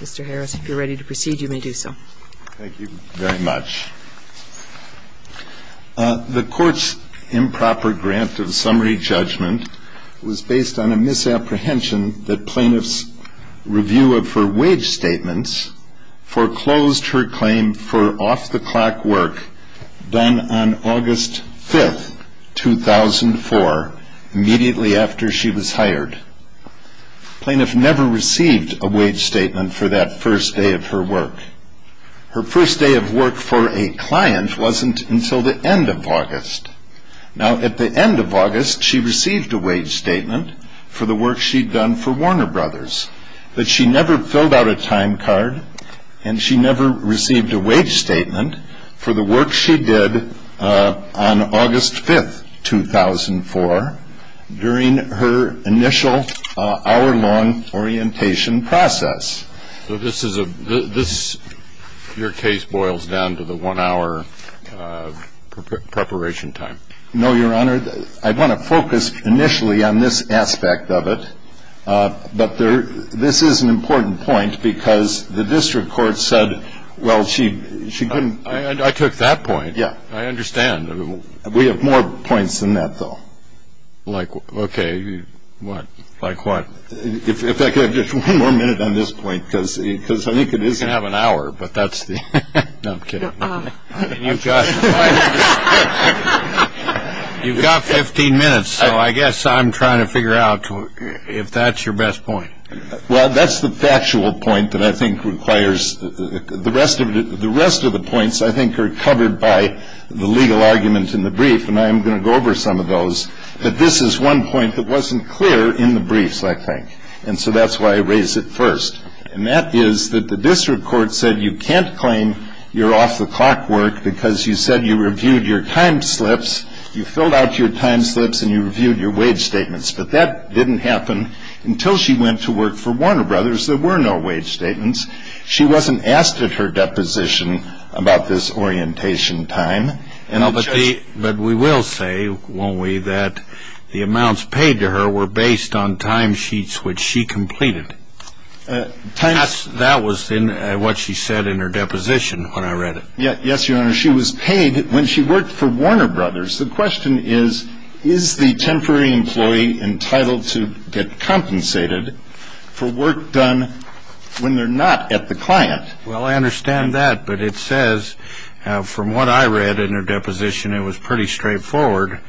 Mr. Harris, if you're ready to proceed, you may do so. Thank you very much. The Court's improper grant of summary judgment was based on a misapprehension that plaintiff's review of her wage statements foreclosed her claim for off-the-clock work done on August 5, 2004, immediately after she was hired. Plaintiff never received a wage statement for that first day of her work. Her first day of work for a client wasn't until the end of August. Now, at the end of August, she received a wage statement for the work she'd done for Warner Brothers. But she never filled out a time card, and she never received a wage statement for the work she did on August 5, 2004, during her initial hour-long orientation process. So this is a – this – your case boils down to the one-hour preparation time. No, Your Honor. I want to focus initially on this aspect of it. But there – this is an important point, because the district court said, well, she – she couldn't – I took that point. Yeah. I understand. We have more points than that, though. Like what? Okay. What? Like what? If I could have just one more minute on this point, because I think it is – You can have an hour, but that's the – no, I'm kidding. You've got – I'm kidding. You've got 15 minutes, so I guess I'm trying to figure out if that's your best point. Well, that's the factual point that I think requires – the rest of it – I think are covered by the legal argument in the brief, and I am going to go over some of those. But this is one point that wasn't clear in the briefs, I think. And so that's why I raised it first. And that is that the district court said you can't claim you're off-the-clock work because you said you reviewed your time slips, you filled out your time slips, and you reviewed your wage statements. But that didn't happen until she went to work for Warner Brothers. There were no wage statements. She wasn't asked at her deposition about this orientation time. But we will say, won't we, that the amounts paid to her were based on time sheets which she completed. That was what she said in her deposition when I read it. Yes, Your Honor. She was paid when she worked for Warner Brothers. The question is, is the temporary employee entitled to get compensated for work done when they're not at the client? Well, I understand that, but it says, from what I read in her deposition, it was pretty straightforward.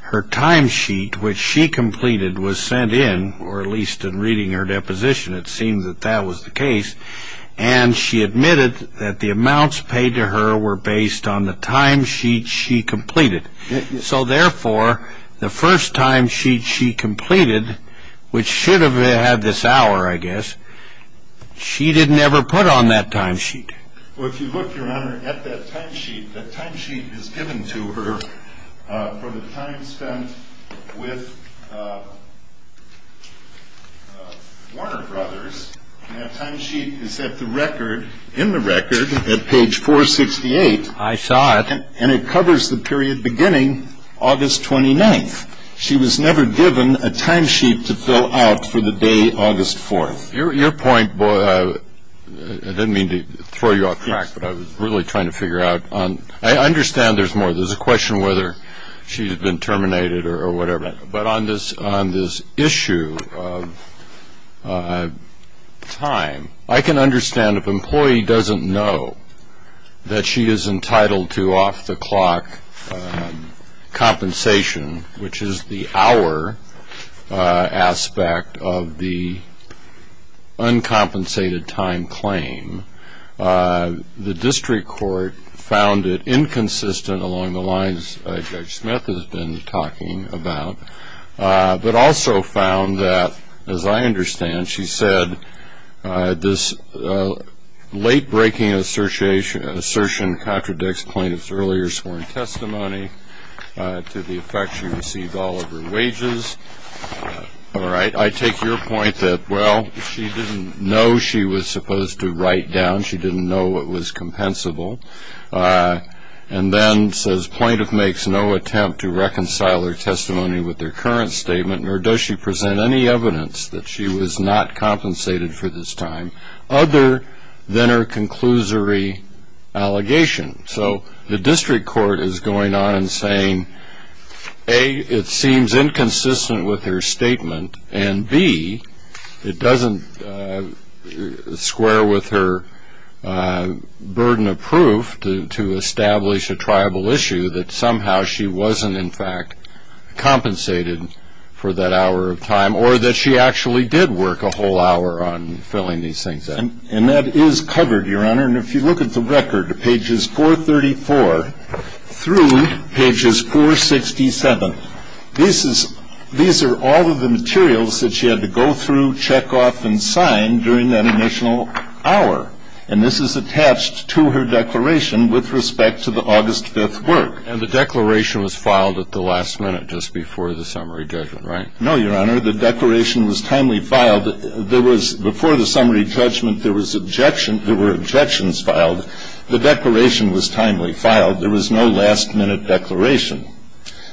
Her time sheet, which she completed, was sent in, or at least in reading her deposition it seemed that that was the case, and she admitted that the amounts paid to her were based on the time sheet she completed. So, therefore, the first time sheet she completed, which should have had this hour, I guess, she didn't ever put on that time sheet. Well, if you look, Your Honor, at that time sheet, that time sheet is given to her for the time spent with Warner Brothers, and that time sheet is in the record at page 468. I saw it. And it covers the period beginning August 29th. She was never given a time sheet to fill out for the day August 4th. Your point, I didn't mean to throw you off track, but I was really trying to figure out. I understand there's more. There's a question whether she had been terminated or whatever. But on this issue of time, I can understand if an employee doesn't know that she is entitled to off-the-clock compensation, which is the hour aspect of the uncompensated time claim, the district court found it inconsistent along the lines Judge Smith has been talking about, but also found that, as I understand, she said, this late-breaking assertion contradicts plaintiff's earlier sworn testimony to the effect she received all of her wages. All right. I take your point that, well, she didn't know she was supposed to write down. She didn't know it was compensable, and then says plaintiff makes no attempt to reconcile her testimony with their current statement, nor does she present any evidence that she was not compensated for this time other than her conclusory allegation. So the district court is going on and saying, A, it seems inconsistent with her statement, and, B, it doesn't square with her burden of proof to establish a tribal issue that somehow she wasn't, in fact, compensated for that hour of time or that she actually did work a whole hour on filling these things out. And that is covered, Your Honor. And if you look at the record, pages 434 through pages 467, these are all of the materials that she had to go through, check off, and sign during that initial hour. And this is attached to her declaration with respect to the August 5th work. And the declaration was filed at the last minute just before the summary judgment, right? No, Your Honor. The declaration was timely filed. Before the summary judgment, there was objection – there were objections filed. The declaration was timely filed. There was no last-minute declaration.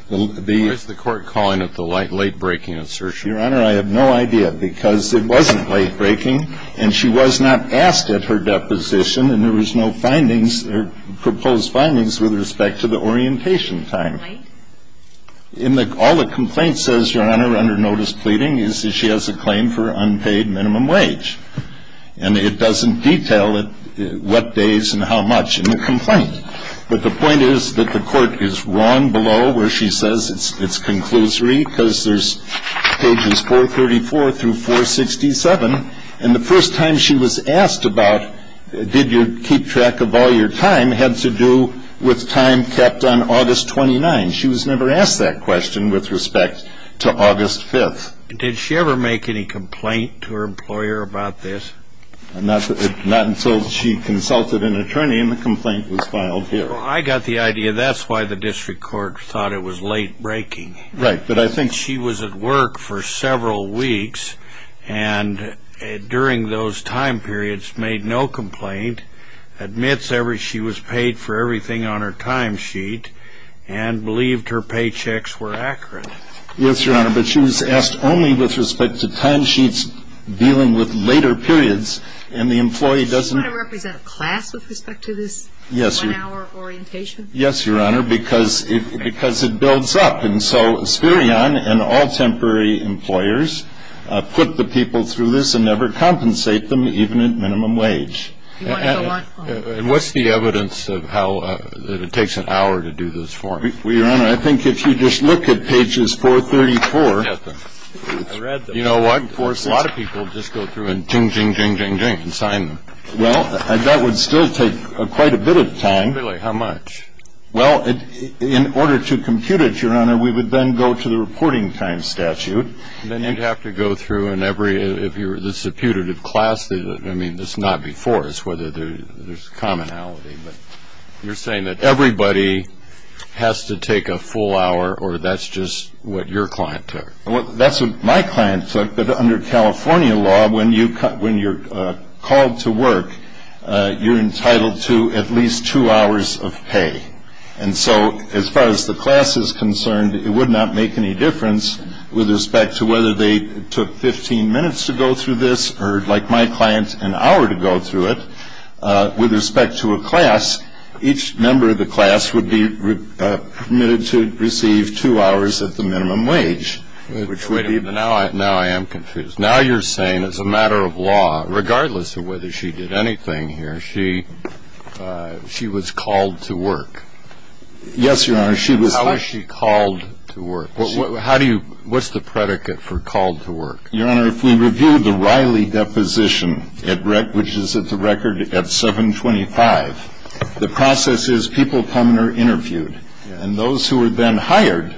Where's the court calling it the late-breaking assertion? Your Honor, I have no idea, because it wasn't late-breaking, and she was not asked at her deposition, and there was no findings or proposed findings with respect to the orientation time. All the complaint says, Your Honor, under notice pleading, is that she has a claim for unpaid minimum wage, and it doesn't detail what days and how much in the complaint. But the point is that the court is wrong below where she says it's conclusory, because there's pages 434 through 467, and the first time she was asked about, did you keep track of all your time, had to do with time kept on August 29th. She was never asked that question with respect to August 5th. Did she ever make any complaint to her employer about this? Not until she consulted an attorney, and the complaint was filed here. I got the idea. That's why the district court thought it was late-breaking. Right, but I think – She was at work for several weeks, and during those time periods made no complaint, admits she was paid for everything on her time sheet, and believed her paychecks were accurate. Yes, Your Honor, but she was asked only with respect to time sheets dealing with later periods, and the employee doesn't – Does she want to represent class with respect to this one-hour orientation? Yes, Your Honor, because it builds up. And so Sperion and all temporary employers put the people through this and never compensate them even at minimum wage. Do you want to go on? And what's the evidence of how – that it takes an hour to do this form? Well, Your Honor, I think if you just look at pages 434 – I read them. You know what? A lot of people just go through and ding, ding, ding, ding, ding, and sign them. Well, that would still take quite a bit of time. Really? How much? Well, in order to compute it, Your Honor, we would then go to the reporting time statute. Then you'd have to go through in every – this is a putative class. I mean, this is not before. It's whether there's commonality. You're saying that everybody has to take a full hour, or that's just what your client took? Well, that's what my client took, but under California law, when you're called to work, you're entitled to at least two hours of pay. And so as far as the class is concerned, it would not make any difference with respect to whether they took 15 minutes to go through this or, like my client, an hour to go through it. With respect to a class, each member of the class would be permitted to receive two hours at the minimum wage. Now I am confused. Now you're saying, as a matter of law, regardless of whether she did anything here, she was called to work. Yes, Your Honor. How was she called to work? How do you – what's the predicate for called to work? Your Honor, if we review the Riley deposition, which is at the record at 725, the process is people come and are interviewed. And those who are then hired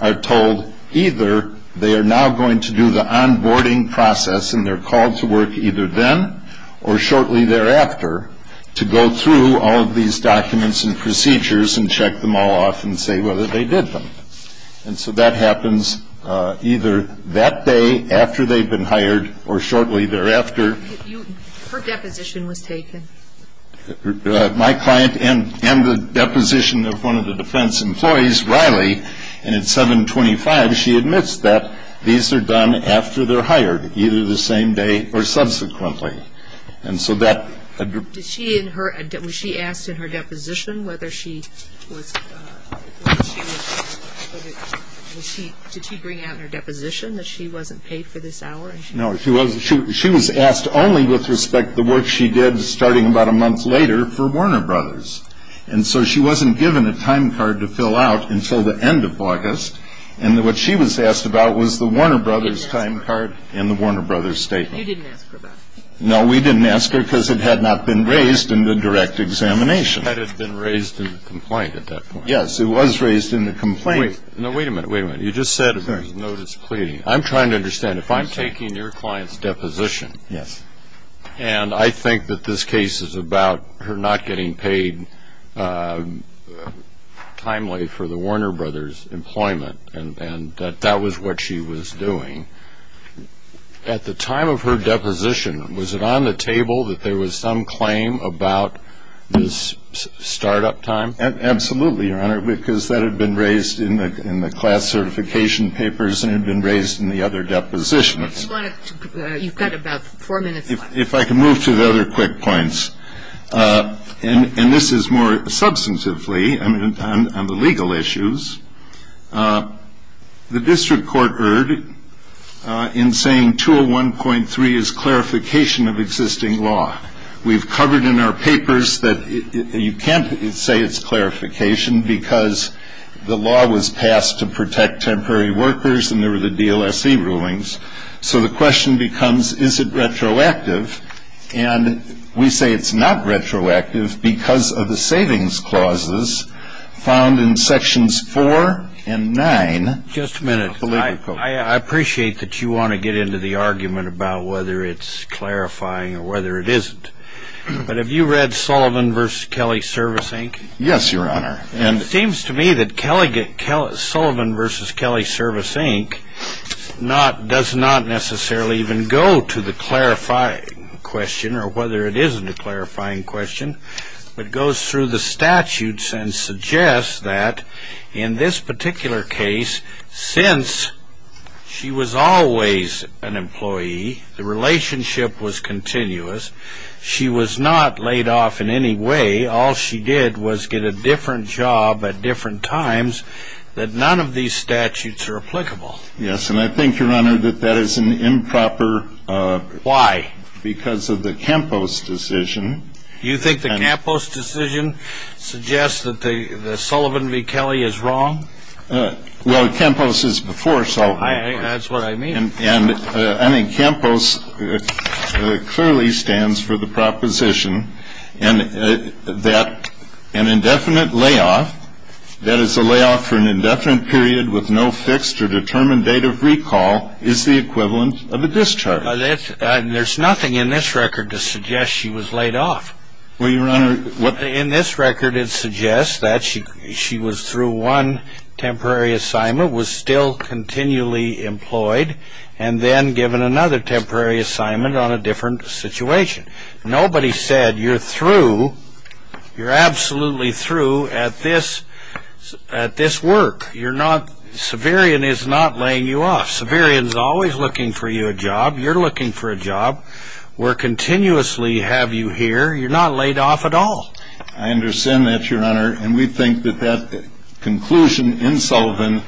are told either they are now going to do the onboarding process and they're called to work either then or shortly thereafter to go through all of these documents and procedures and check them all off and say whether they did them. And so that happens either that day after they've been hired or shortly thereafter. Her deposition was taken. My client and the deposition of one of the defense employees, Riley, and at 725 she admits that these are done after they're hired, either the same day or subsequently. And so that – Did she in her – was she asked in her deposition whether she was – did she bring out in her deposition that she wasn't paid for this hour? No, she was asked only with respect to the work she did starting about a month later for Warner Brothers. And so she wasn't given a time card to fill out until the end of August. And what she was asked about was the Warner Brothers time card and the Warner Brothers statement. And you didn't ask her about it? No, we didn't ask her because it had not been raised in the direct examination. It had been raised in the complaint at that point. Yes, it was raised in the complaint. Wait. No, wait a minute, wait a minute. You just said it was notice pleading. I'm trying to understand. If I'm taking your client's deposition and I think that this case is about her not getting paid timely for the Warner Brothers employment and that that was what she was doing, at the time of her deposition, was it on the table that there was some claim about this start-up time? Absolutely, Your Honor, because that had been raised in the class certification papers and had been raised in the other depositions. You've got about four minutes left. If I can move to the other quick points. And this is more substantively on the legal issues. The district court erred in saying 201.3 is clarification of existing law. We've covered in our papers that you can't say it's clarification because the law was passed to protect temporary workers and there were the DLSE rulings. So the question becomes, is it retroactive? And we say it's not retroactive because of the savings clauses found in Sections 4 and 9. Just a minute. I appreciate that you want to get into the argument about whether it's clarifying or whether it isn't. But have you read Sullivan v. Kelly Service, Inc.? Yes, Your Honor. It seems to me that Sullivan v. Kelly Service, Inc. does not necessarily even go to the clarifying question or whether it isn't a clarifying question, but goes through the statutes and suggests that in this particular case, since she was always an employee, the relationship was continuous, she was not laid off in any way. All she did was get a different job at different times that none of these statutes are applicable. Yes, and I think, Your Honor, that that is an improper. Why? Because of the Campos decision. You think the Campos decision suggests that Sullivan v. Kelly is wrong? Well, Campos is before Sullivan v. Kelly. That's what I mean. And I think Campos clearly stands for the proposition that an indefinite layoff, that is a layoff for an indefinite period with no fixed or determined date of recall, is the equivalent of a discharge. There's nothing in this record to suggest she was laid off. Well, Your Honor, what In this record it suggests that she was through one temporary assignment, was still continually employed, and then given another temporary assignment on a different situation. Nobody said you're through, you're absolutely through at this work. You're not, Severian is not laying you off. Severian is always looking for you a job. You're looking for a job. We're continuously have you here. You're not laid off at all. I understand that, Your Honor. And we think that that conclusion in Sullivan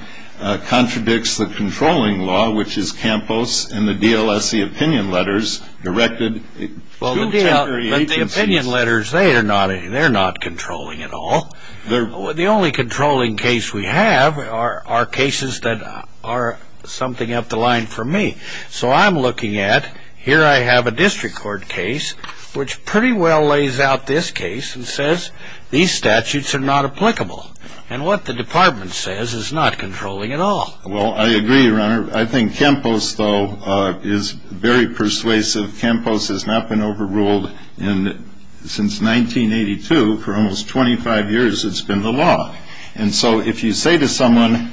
contradicts the controlling law, which is Campos and the DLSC opinion letters directed to temporary agencies. Well, the opinion letters, they're not controlling at all. The only controlling case we have are cases that are something up the line for me. So I'm looking at, here I have a district court case which pretty well lays out this case and says these statutes are not applicable. And what the department says is not controlling at all. Well, I agree, Your Honor. I think Campos, though, is very persuasive. Campos has not been overruled since 1982. For almost 25 years it's been the law. And so if you say to someone,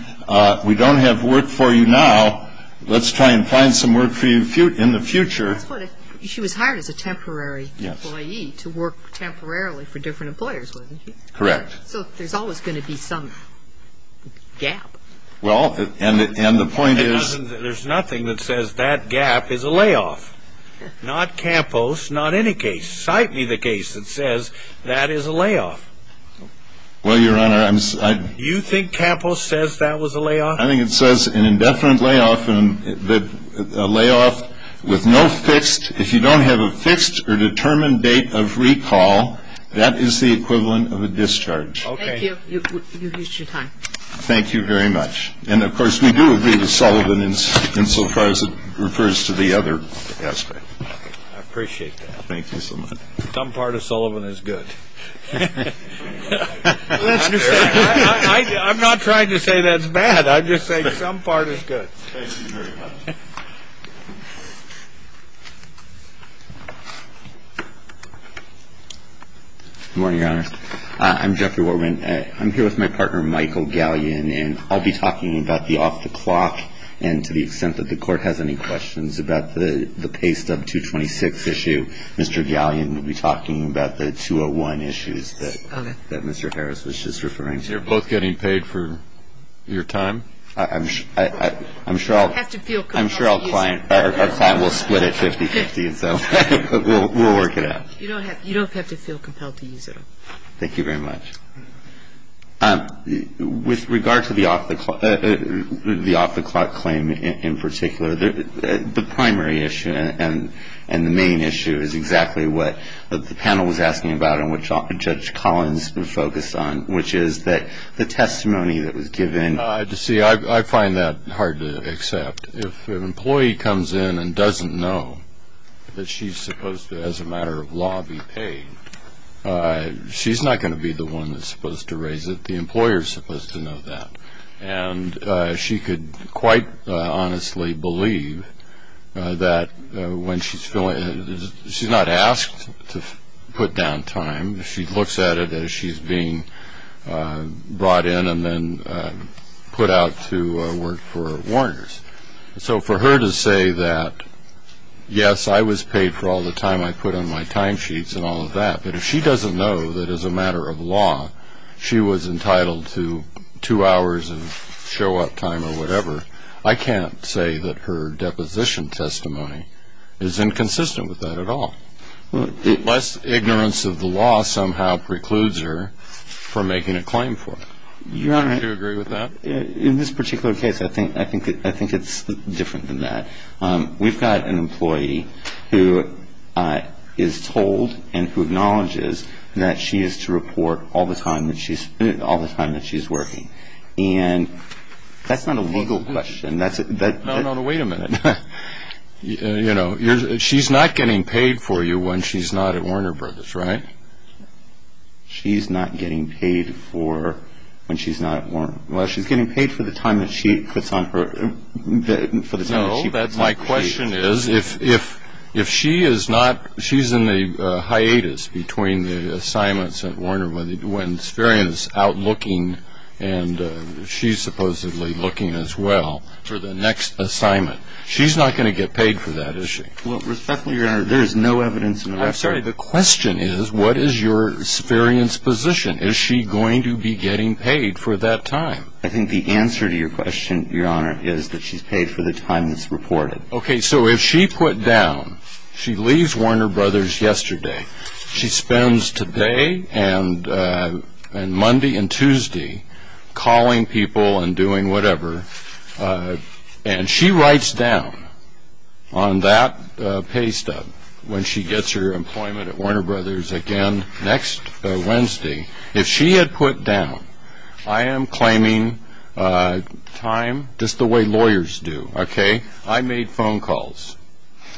we don't have work for you now, let's try and find some work for you in the future. She was hired as a temporary employee to work temporarily for different employers, wasn't she? Correct. So there's always going to be some gap. Well, and the point is... There's nothing that says that gap is a layoff. Not Campos, not any case. Cite me the case that says that is a layoff. Well, Your Honor, I'm... You think Campos says that was a layoff? I think it says an indefinite layoff, a layoff with no fixed... If you don't have a fixed or determined date of recall, that is the equivalent of a discharge. Okay. Thank you. You've used your time. Thank you very much. And, of course, we do agree with Sullivan insofar as it refers to the other aspect. I appreciate that. Thank you so much. Some part of Sullivan is good. I'm not trying to say that's bad. I'm just saying some part is good. Thank you very much. Good morning, Your Honor. I'm Jeffrey Warwin. I'm here with my partner, Michael Gallion, and I'll be talking about the off-the-clock and to the extent that the Court has any questions about the paste of 226 issue. Mr. Gallion will be talking about the 201 issues that Mr. Harris was just referring to. You're both getting paid for your time? I'm sure our client will split it 50-50, so we'll work it out. You don't have to feel compelled to use it all. Thank you very much. With regard to the off-the-clock claim in particular, the primary issue and the main issue is exactly what the panel was asking about and what Judge Collins was focused on, which is the testimony that was given. See, I find that hard to accept. If an employee comes in and doesn't know that she's supposed to, as a matter of law, be paid, she's not going to be the one that's supposed to raise it. The employer is supposed to know that. And she could quite honestly believe that when she's filling in, she's not asked to put down time. She looks at it as she's being brought in and then put out to work for Warners. So for her to say that, yes, I was paid for all the time I put on my timesheets and all of that, that if she doesn't know that, as a matter of law, she was entitled to two hours of show-up time or whatever, I can't say that her deposition testimony is inconsistent with that at all. Unless ignorance of the law somehow precludes her from making a claim for it. Do you agree with that? Your Honor, in this particular case, I think it's different than that. We've got an employee who is told and who acknowledges that she is to report all the time that she's working. And that's not a legal question. No, no, no. Wait a minute. You know, she's not getting paid for you when she's not at Warner Brothers, right? She's not getting paid for when she's not at Warner. Well, she's getting paid for the time that she puts on her – for the time that she – No, my question is, if she is not – she's in the hiatus between the assignments at Warner when Spherian is out looking and she's supposedly looking as well for the next assignment. She's not going to get paid for that, is she? Well, respectfully, Your Honor, there is no evidence of that. I'm sorry. The question is, what is your Spherian's position? Is she going to be getting paid for that time? I think the answer to your question, Your Honor, is that she's paid for the time that's reported. Okay. So if she put down – she leaves Warner Brothers yesterday. She spends today and Monday and Tuesday calling people and doing whatever. And she writes down on that pay stub when she gets her employment at Warner Brothers again next Wednesday. If she had put down, I am claiming time just the way lawyers do, okay? I made phone calls.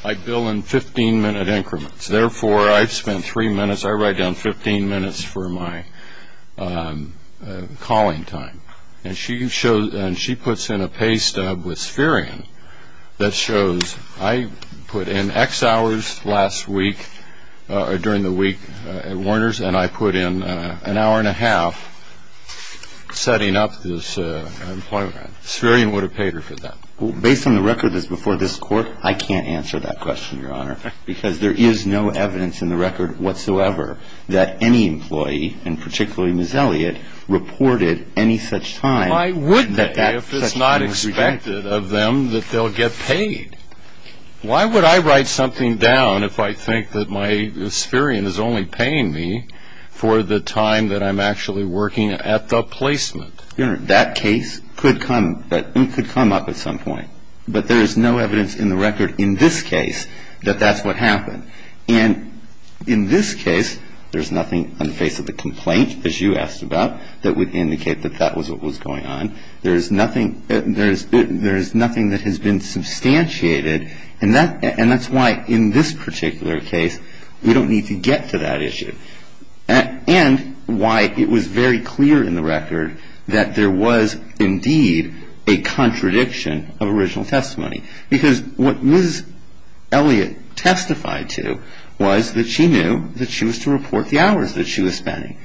I bill in 15-minute increments. Therefore, I've spent three minutes. I write down 15 minutes for my calling time. And she puts in a pay stub with Spherian that shows – I put in X hours last week or during the week at Warner's, and I put in an hour and a half setting up this employment. Spherian would have paid her for that. Based on the record that's before this Court, I can't answer that question, Your Honor, because there is no evidence in the record whatsoever that any employee, and particularly Ms. Elliott, reported any such time. Why would they if it's not expected of them that they'll get paid? Why would I write something down if I think that my Spherian is only paying me for the time that I'm actually working at the placement? Your Honor, that case could come up at some point. But there is no evidence in the record in this case that that's what happened. And in this case, there's nothing on the face of the complaint, as you asked about, that would indicate that that was what was going on. There is nothing that has been substantiated, and that's why in this particular case we don't need to get to that issue. And why it was very clear in the record that there was indeed a contradiction of original testimony. Because what Ms. Elliott testified to was that she knew that she was to report the hours that she was spending.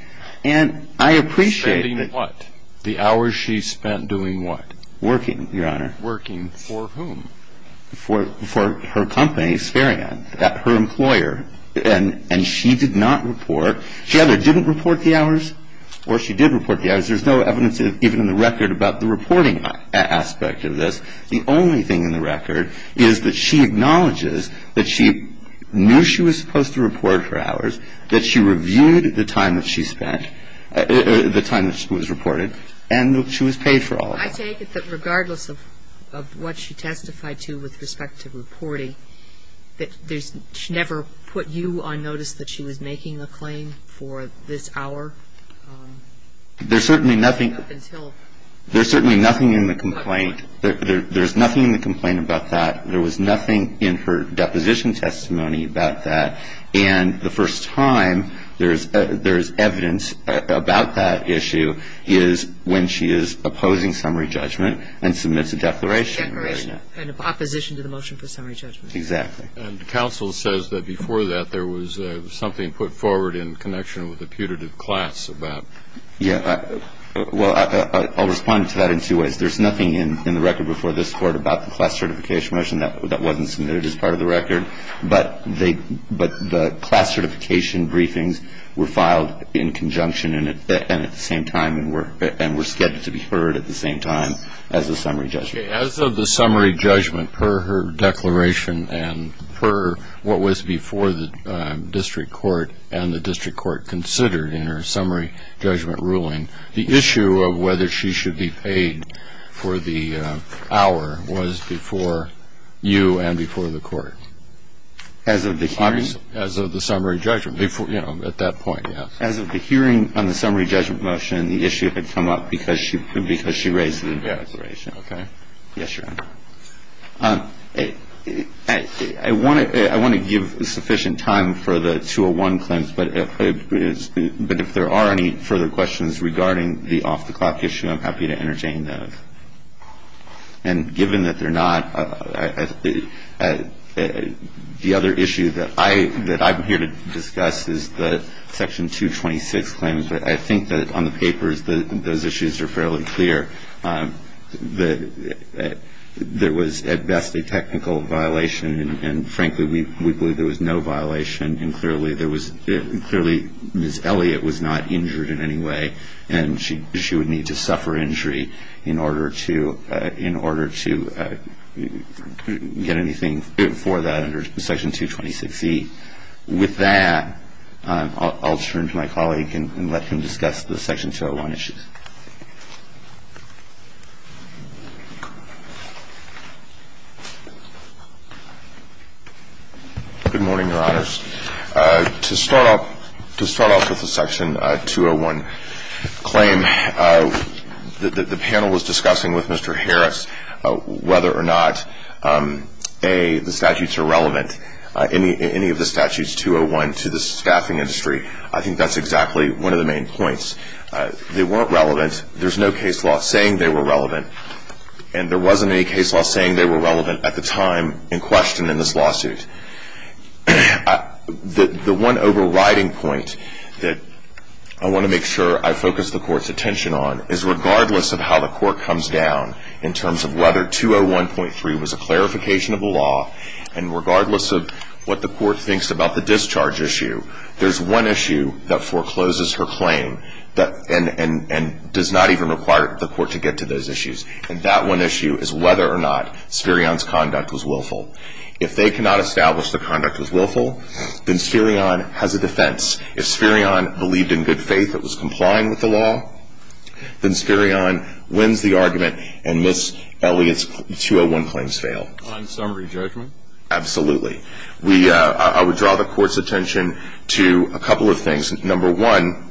And I appreciate that. Spending what? The hours she spent doing what? Working, Your Honor. Working for whom? For her company, Spherian, her employer. And she did not report. She either didn't report the hours or she did report the hours. There's no evidence even in the record about the reporting aspect of this. The only thing in the record is that she acknowledges that she knew she was supposed to report her hours, that she reviewed the time that she spent, the time that she was reported, and that she was paid for all of that. I take it that regardless of what she testified to with respect to reporting, that there's never put you on notice that she was making a claim for this hour? There's certainly nothing. Up until? There's certainly nothing in the complaint. There's nothing in the complaint about that. There was nothing in her deposition testimony about that. And the first time there's evidence about that issue is when she is opposing summary judgment and submits a declaration. Declaration. And opposition to the motion for summary judgment. Exactly. And counsel says that before that there was something put forward in connection with the putative class about. Yeah. Well, I'll respond to that in two ways. There's nothing in the record before this Court about the class certification motion that wasn't submitted as part of the record. But the class certification briefings were filed in conjunction and at the same time and were scheduled to be heard at the same time as the summary judgment. As of the summary judgment, per her declaration and per what was before the district court and the district court considered in her summary judgment ruling, the issue of whether she should be paid for the hour was before you and before the court. As of the hearing? As of the summary judgment. You know, at that point, yes. As of the hearing on the summary judgment motion, the issue had come up because she raised the declaration. Okay. Yes, Your Honor. I want to give sufficient time for the 201 claims, but if there are any further questions regarding the off-the-clock issue, I'm happy to entertain those. And given that they're not, the other issue that I'm here to discuss is the Section 226 claims. But I think that on the papers, those issues are fairly clear. There was at best a technical violation, and frankly, we believe there was no violation. Clearly, Ms. Elliott was not injured in any way, and she would need to suffer injury in order to get anything for that under Section 226E. With that, I'll turn to my colleague and let him discuss the Section 201 issues. Good morning, Your Honors. To start off with the Section 201 claim, the panel was discussing with Mr. Harris whether or not the statutes are relevant, any of the statutes 201, to the staffing industry. I think that's exactly one of the main points. They weren't relevant. There's no case law saying they were relevant, and there wasn't any case law saying they were relevant at the time in question in this lawsuit. The one overriding point that I want to make sure I focus the Court's attention on is regardless of how the Court comes down in terms of whether 201.3 was a clarification of the law, and regardless of what the Court thinks about the discharge issue, there's one issue that forecloses her claim and does not even require the Court to get to those issues, and that one issue is whether or not Sperion's conduct was willful. If they cannot establish the conduct was willful, then Sperion has a defense. If Sperion believed in good faith that was complying with the law, then Sperion wins the argument and Ms. Elliott's 201 claims fail. On summary judgment? Absolutely. I would draw the Court's attention to a couple of things. Number one,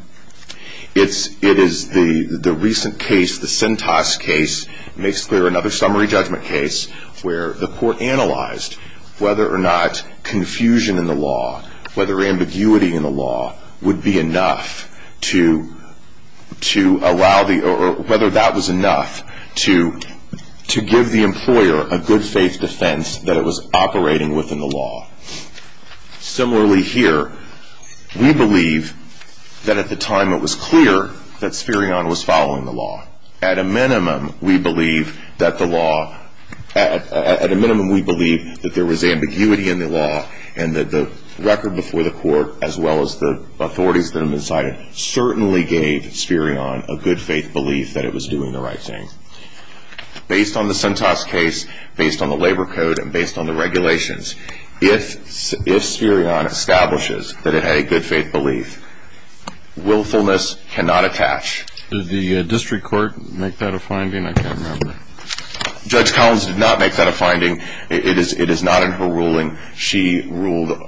it is the recent case, the Sentos case, makes clear another summary judgment case where the Court analyzed whether or not confusion in the law, whether ambiguity in the law, would be enough to allow the or whether that was enough to give the employer a good faith defense that it was operating within the law. Similarly here, we believe that at the time it was clear that Sperion was following the law. At a minimum, we believe that the law, at a minimum we believe that there was ambiguity in the law and that the record before the Court as well as the authorities that have been cited certainly gave Sperion a good faith belief that it was doing the right thing. Based on the Sentos case, based on the labor code, and based on the regulations, if Sperion establishes that it had a good faith belief, willfulness cannot attach. Did the district court make that a finding? I can't remember. Judge Collins did not make that a finding. It is not in her ruling. She ruled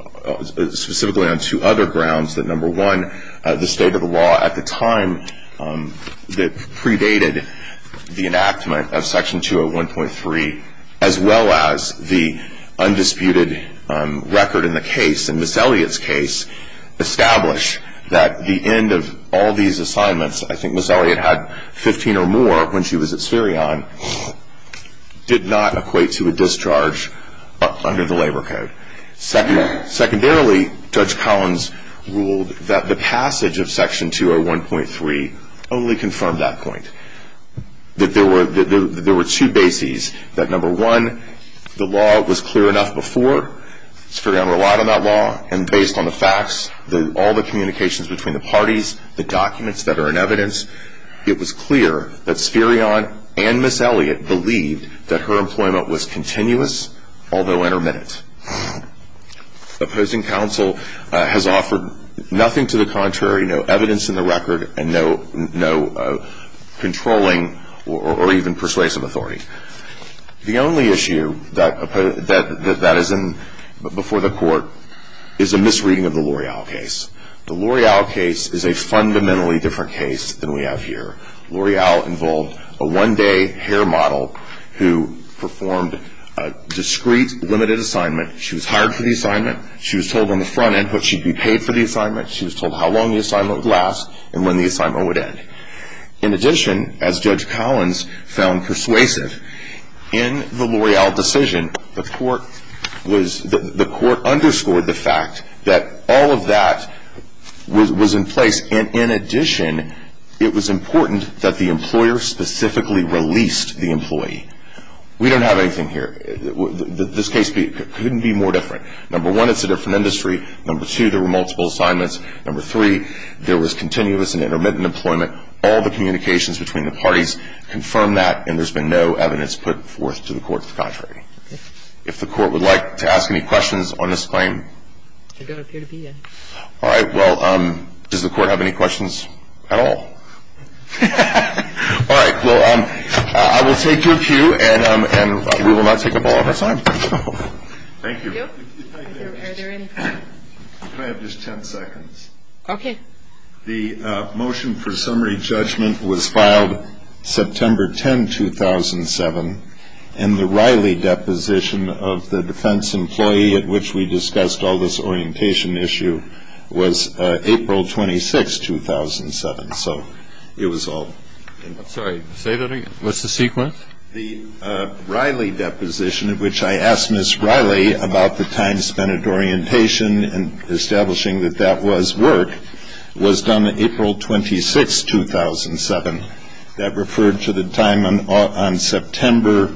specifically on two other grounds that, number one, the state of the law at the time that predated the enactment of Section 201.3 as well as the undisputed record in the case, in Ms. Elliott's case, established that the end of all these assignments, I think Ms. Elliott had 15 or more when she was at Sperion, did not equate to a discharge under the labor code. Secondarily, Judge Collins ruled that the passage of Section 201.3 only confirmed that point, that there were two bases, that, number one, the law was clear enough before. Sperion relied on that law, and based on the facts, all the communications between the parties, the documents that are in evidence, it was clear that Sperion and Ms. Elliott believed that her employment was continuous, although intermittent. Opposing counsel has offered nothing to the contrary, no evidence in the record, and no controlling or even persuasive authority. The only issue that is before the court is a misreading of the L'Oreal case. The L'Oreal case is a fundamentally different case than we have here. L'Oreal involved a one-day hair model who performed a discreet, limited assignment. She was hired for the assignment. She was told on the front end what she'd be paid for the assignment. She was told how long the assignment would last and when the assignment would end. In addition, as Judge Collins found persuasive, in the L'Oreal decision, the court underscored the fact that all of that was in place, and in addition, it was important that the employer specifically released the employee. We don't have anything here. This case couldn't be more different. Number one, it's a different industry. Number two, there were multiple assignments. Number three, there was continuous and intermittent employment. All the communications between the parties confirm that, and there's been no evidence put forth to the court to the contrary. If the court would like to ask any questions on this claim. I don't appear to be in. All right. Well, does the court have any questions at all? All right. Well, I will take your cue, and we will not take up all of our time. Thank you. Thank you. Are there any questions? Can I have just ten seconds? Okay. The motion for summary judgment was filed September 10, 2007, and the Riley deposition of the defense employee at which we discussed all this orientation issue was April 26, 2007. So it was all. I'm sorry. Say that again. What's the sequence? The Riley deposition at which I asked Ms. Riley about the time spent at orientation and establishing that that was work was done April 26, 2007. That referred to the time on September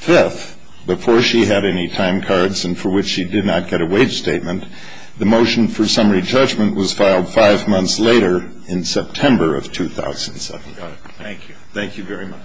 5th, before she had any time cards and for which she did not get a wage statement. The motion for summary judgment was filed five months later in September of 2007. Thank you. Thank you very much.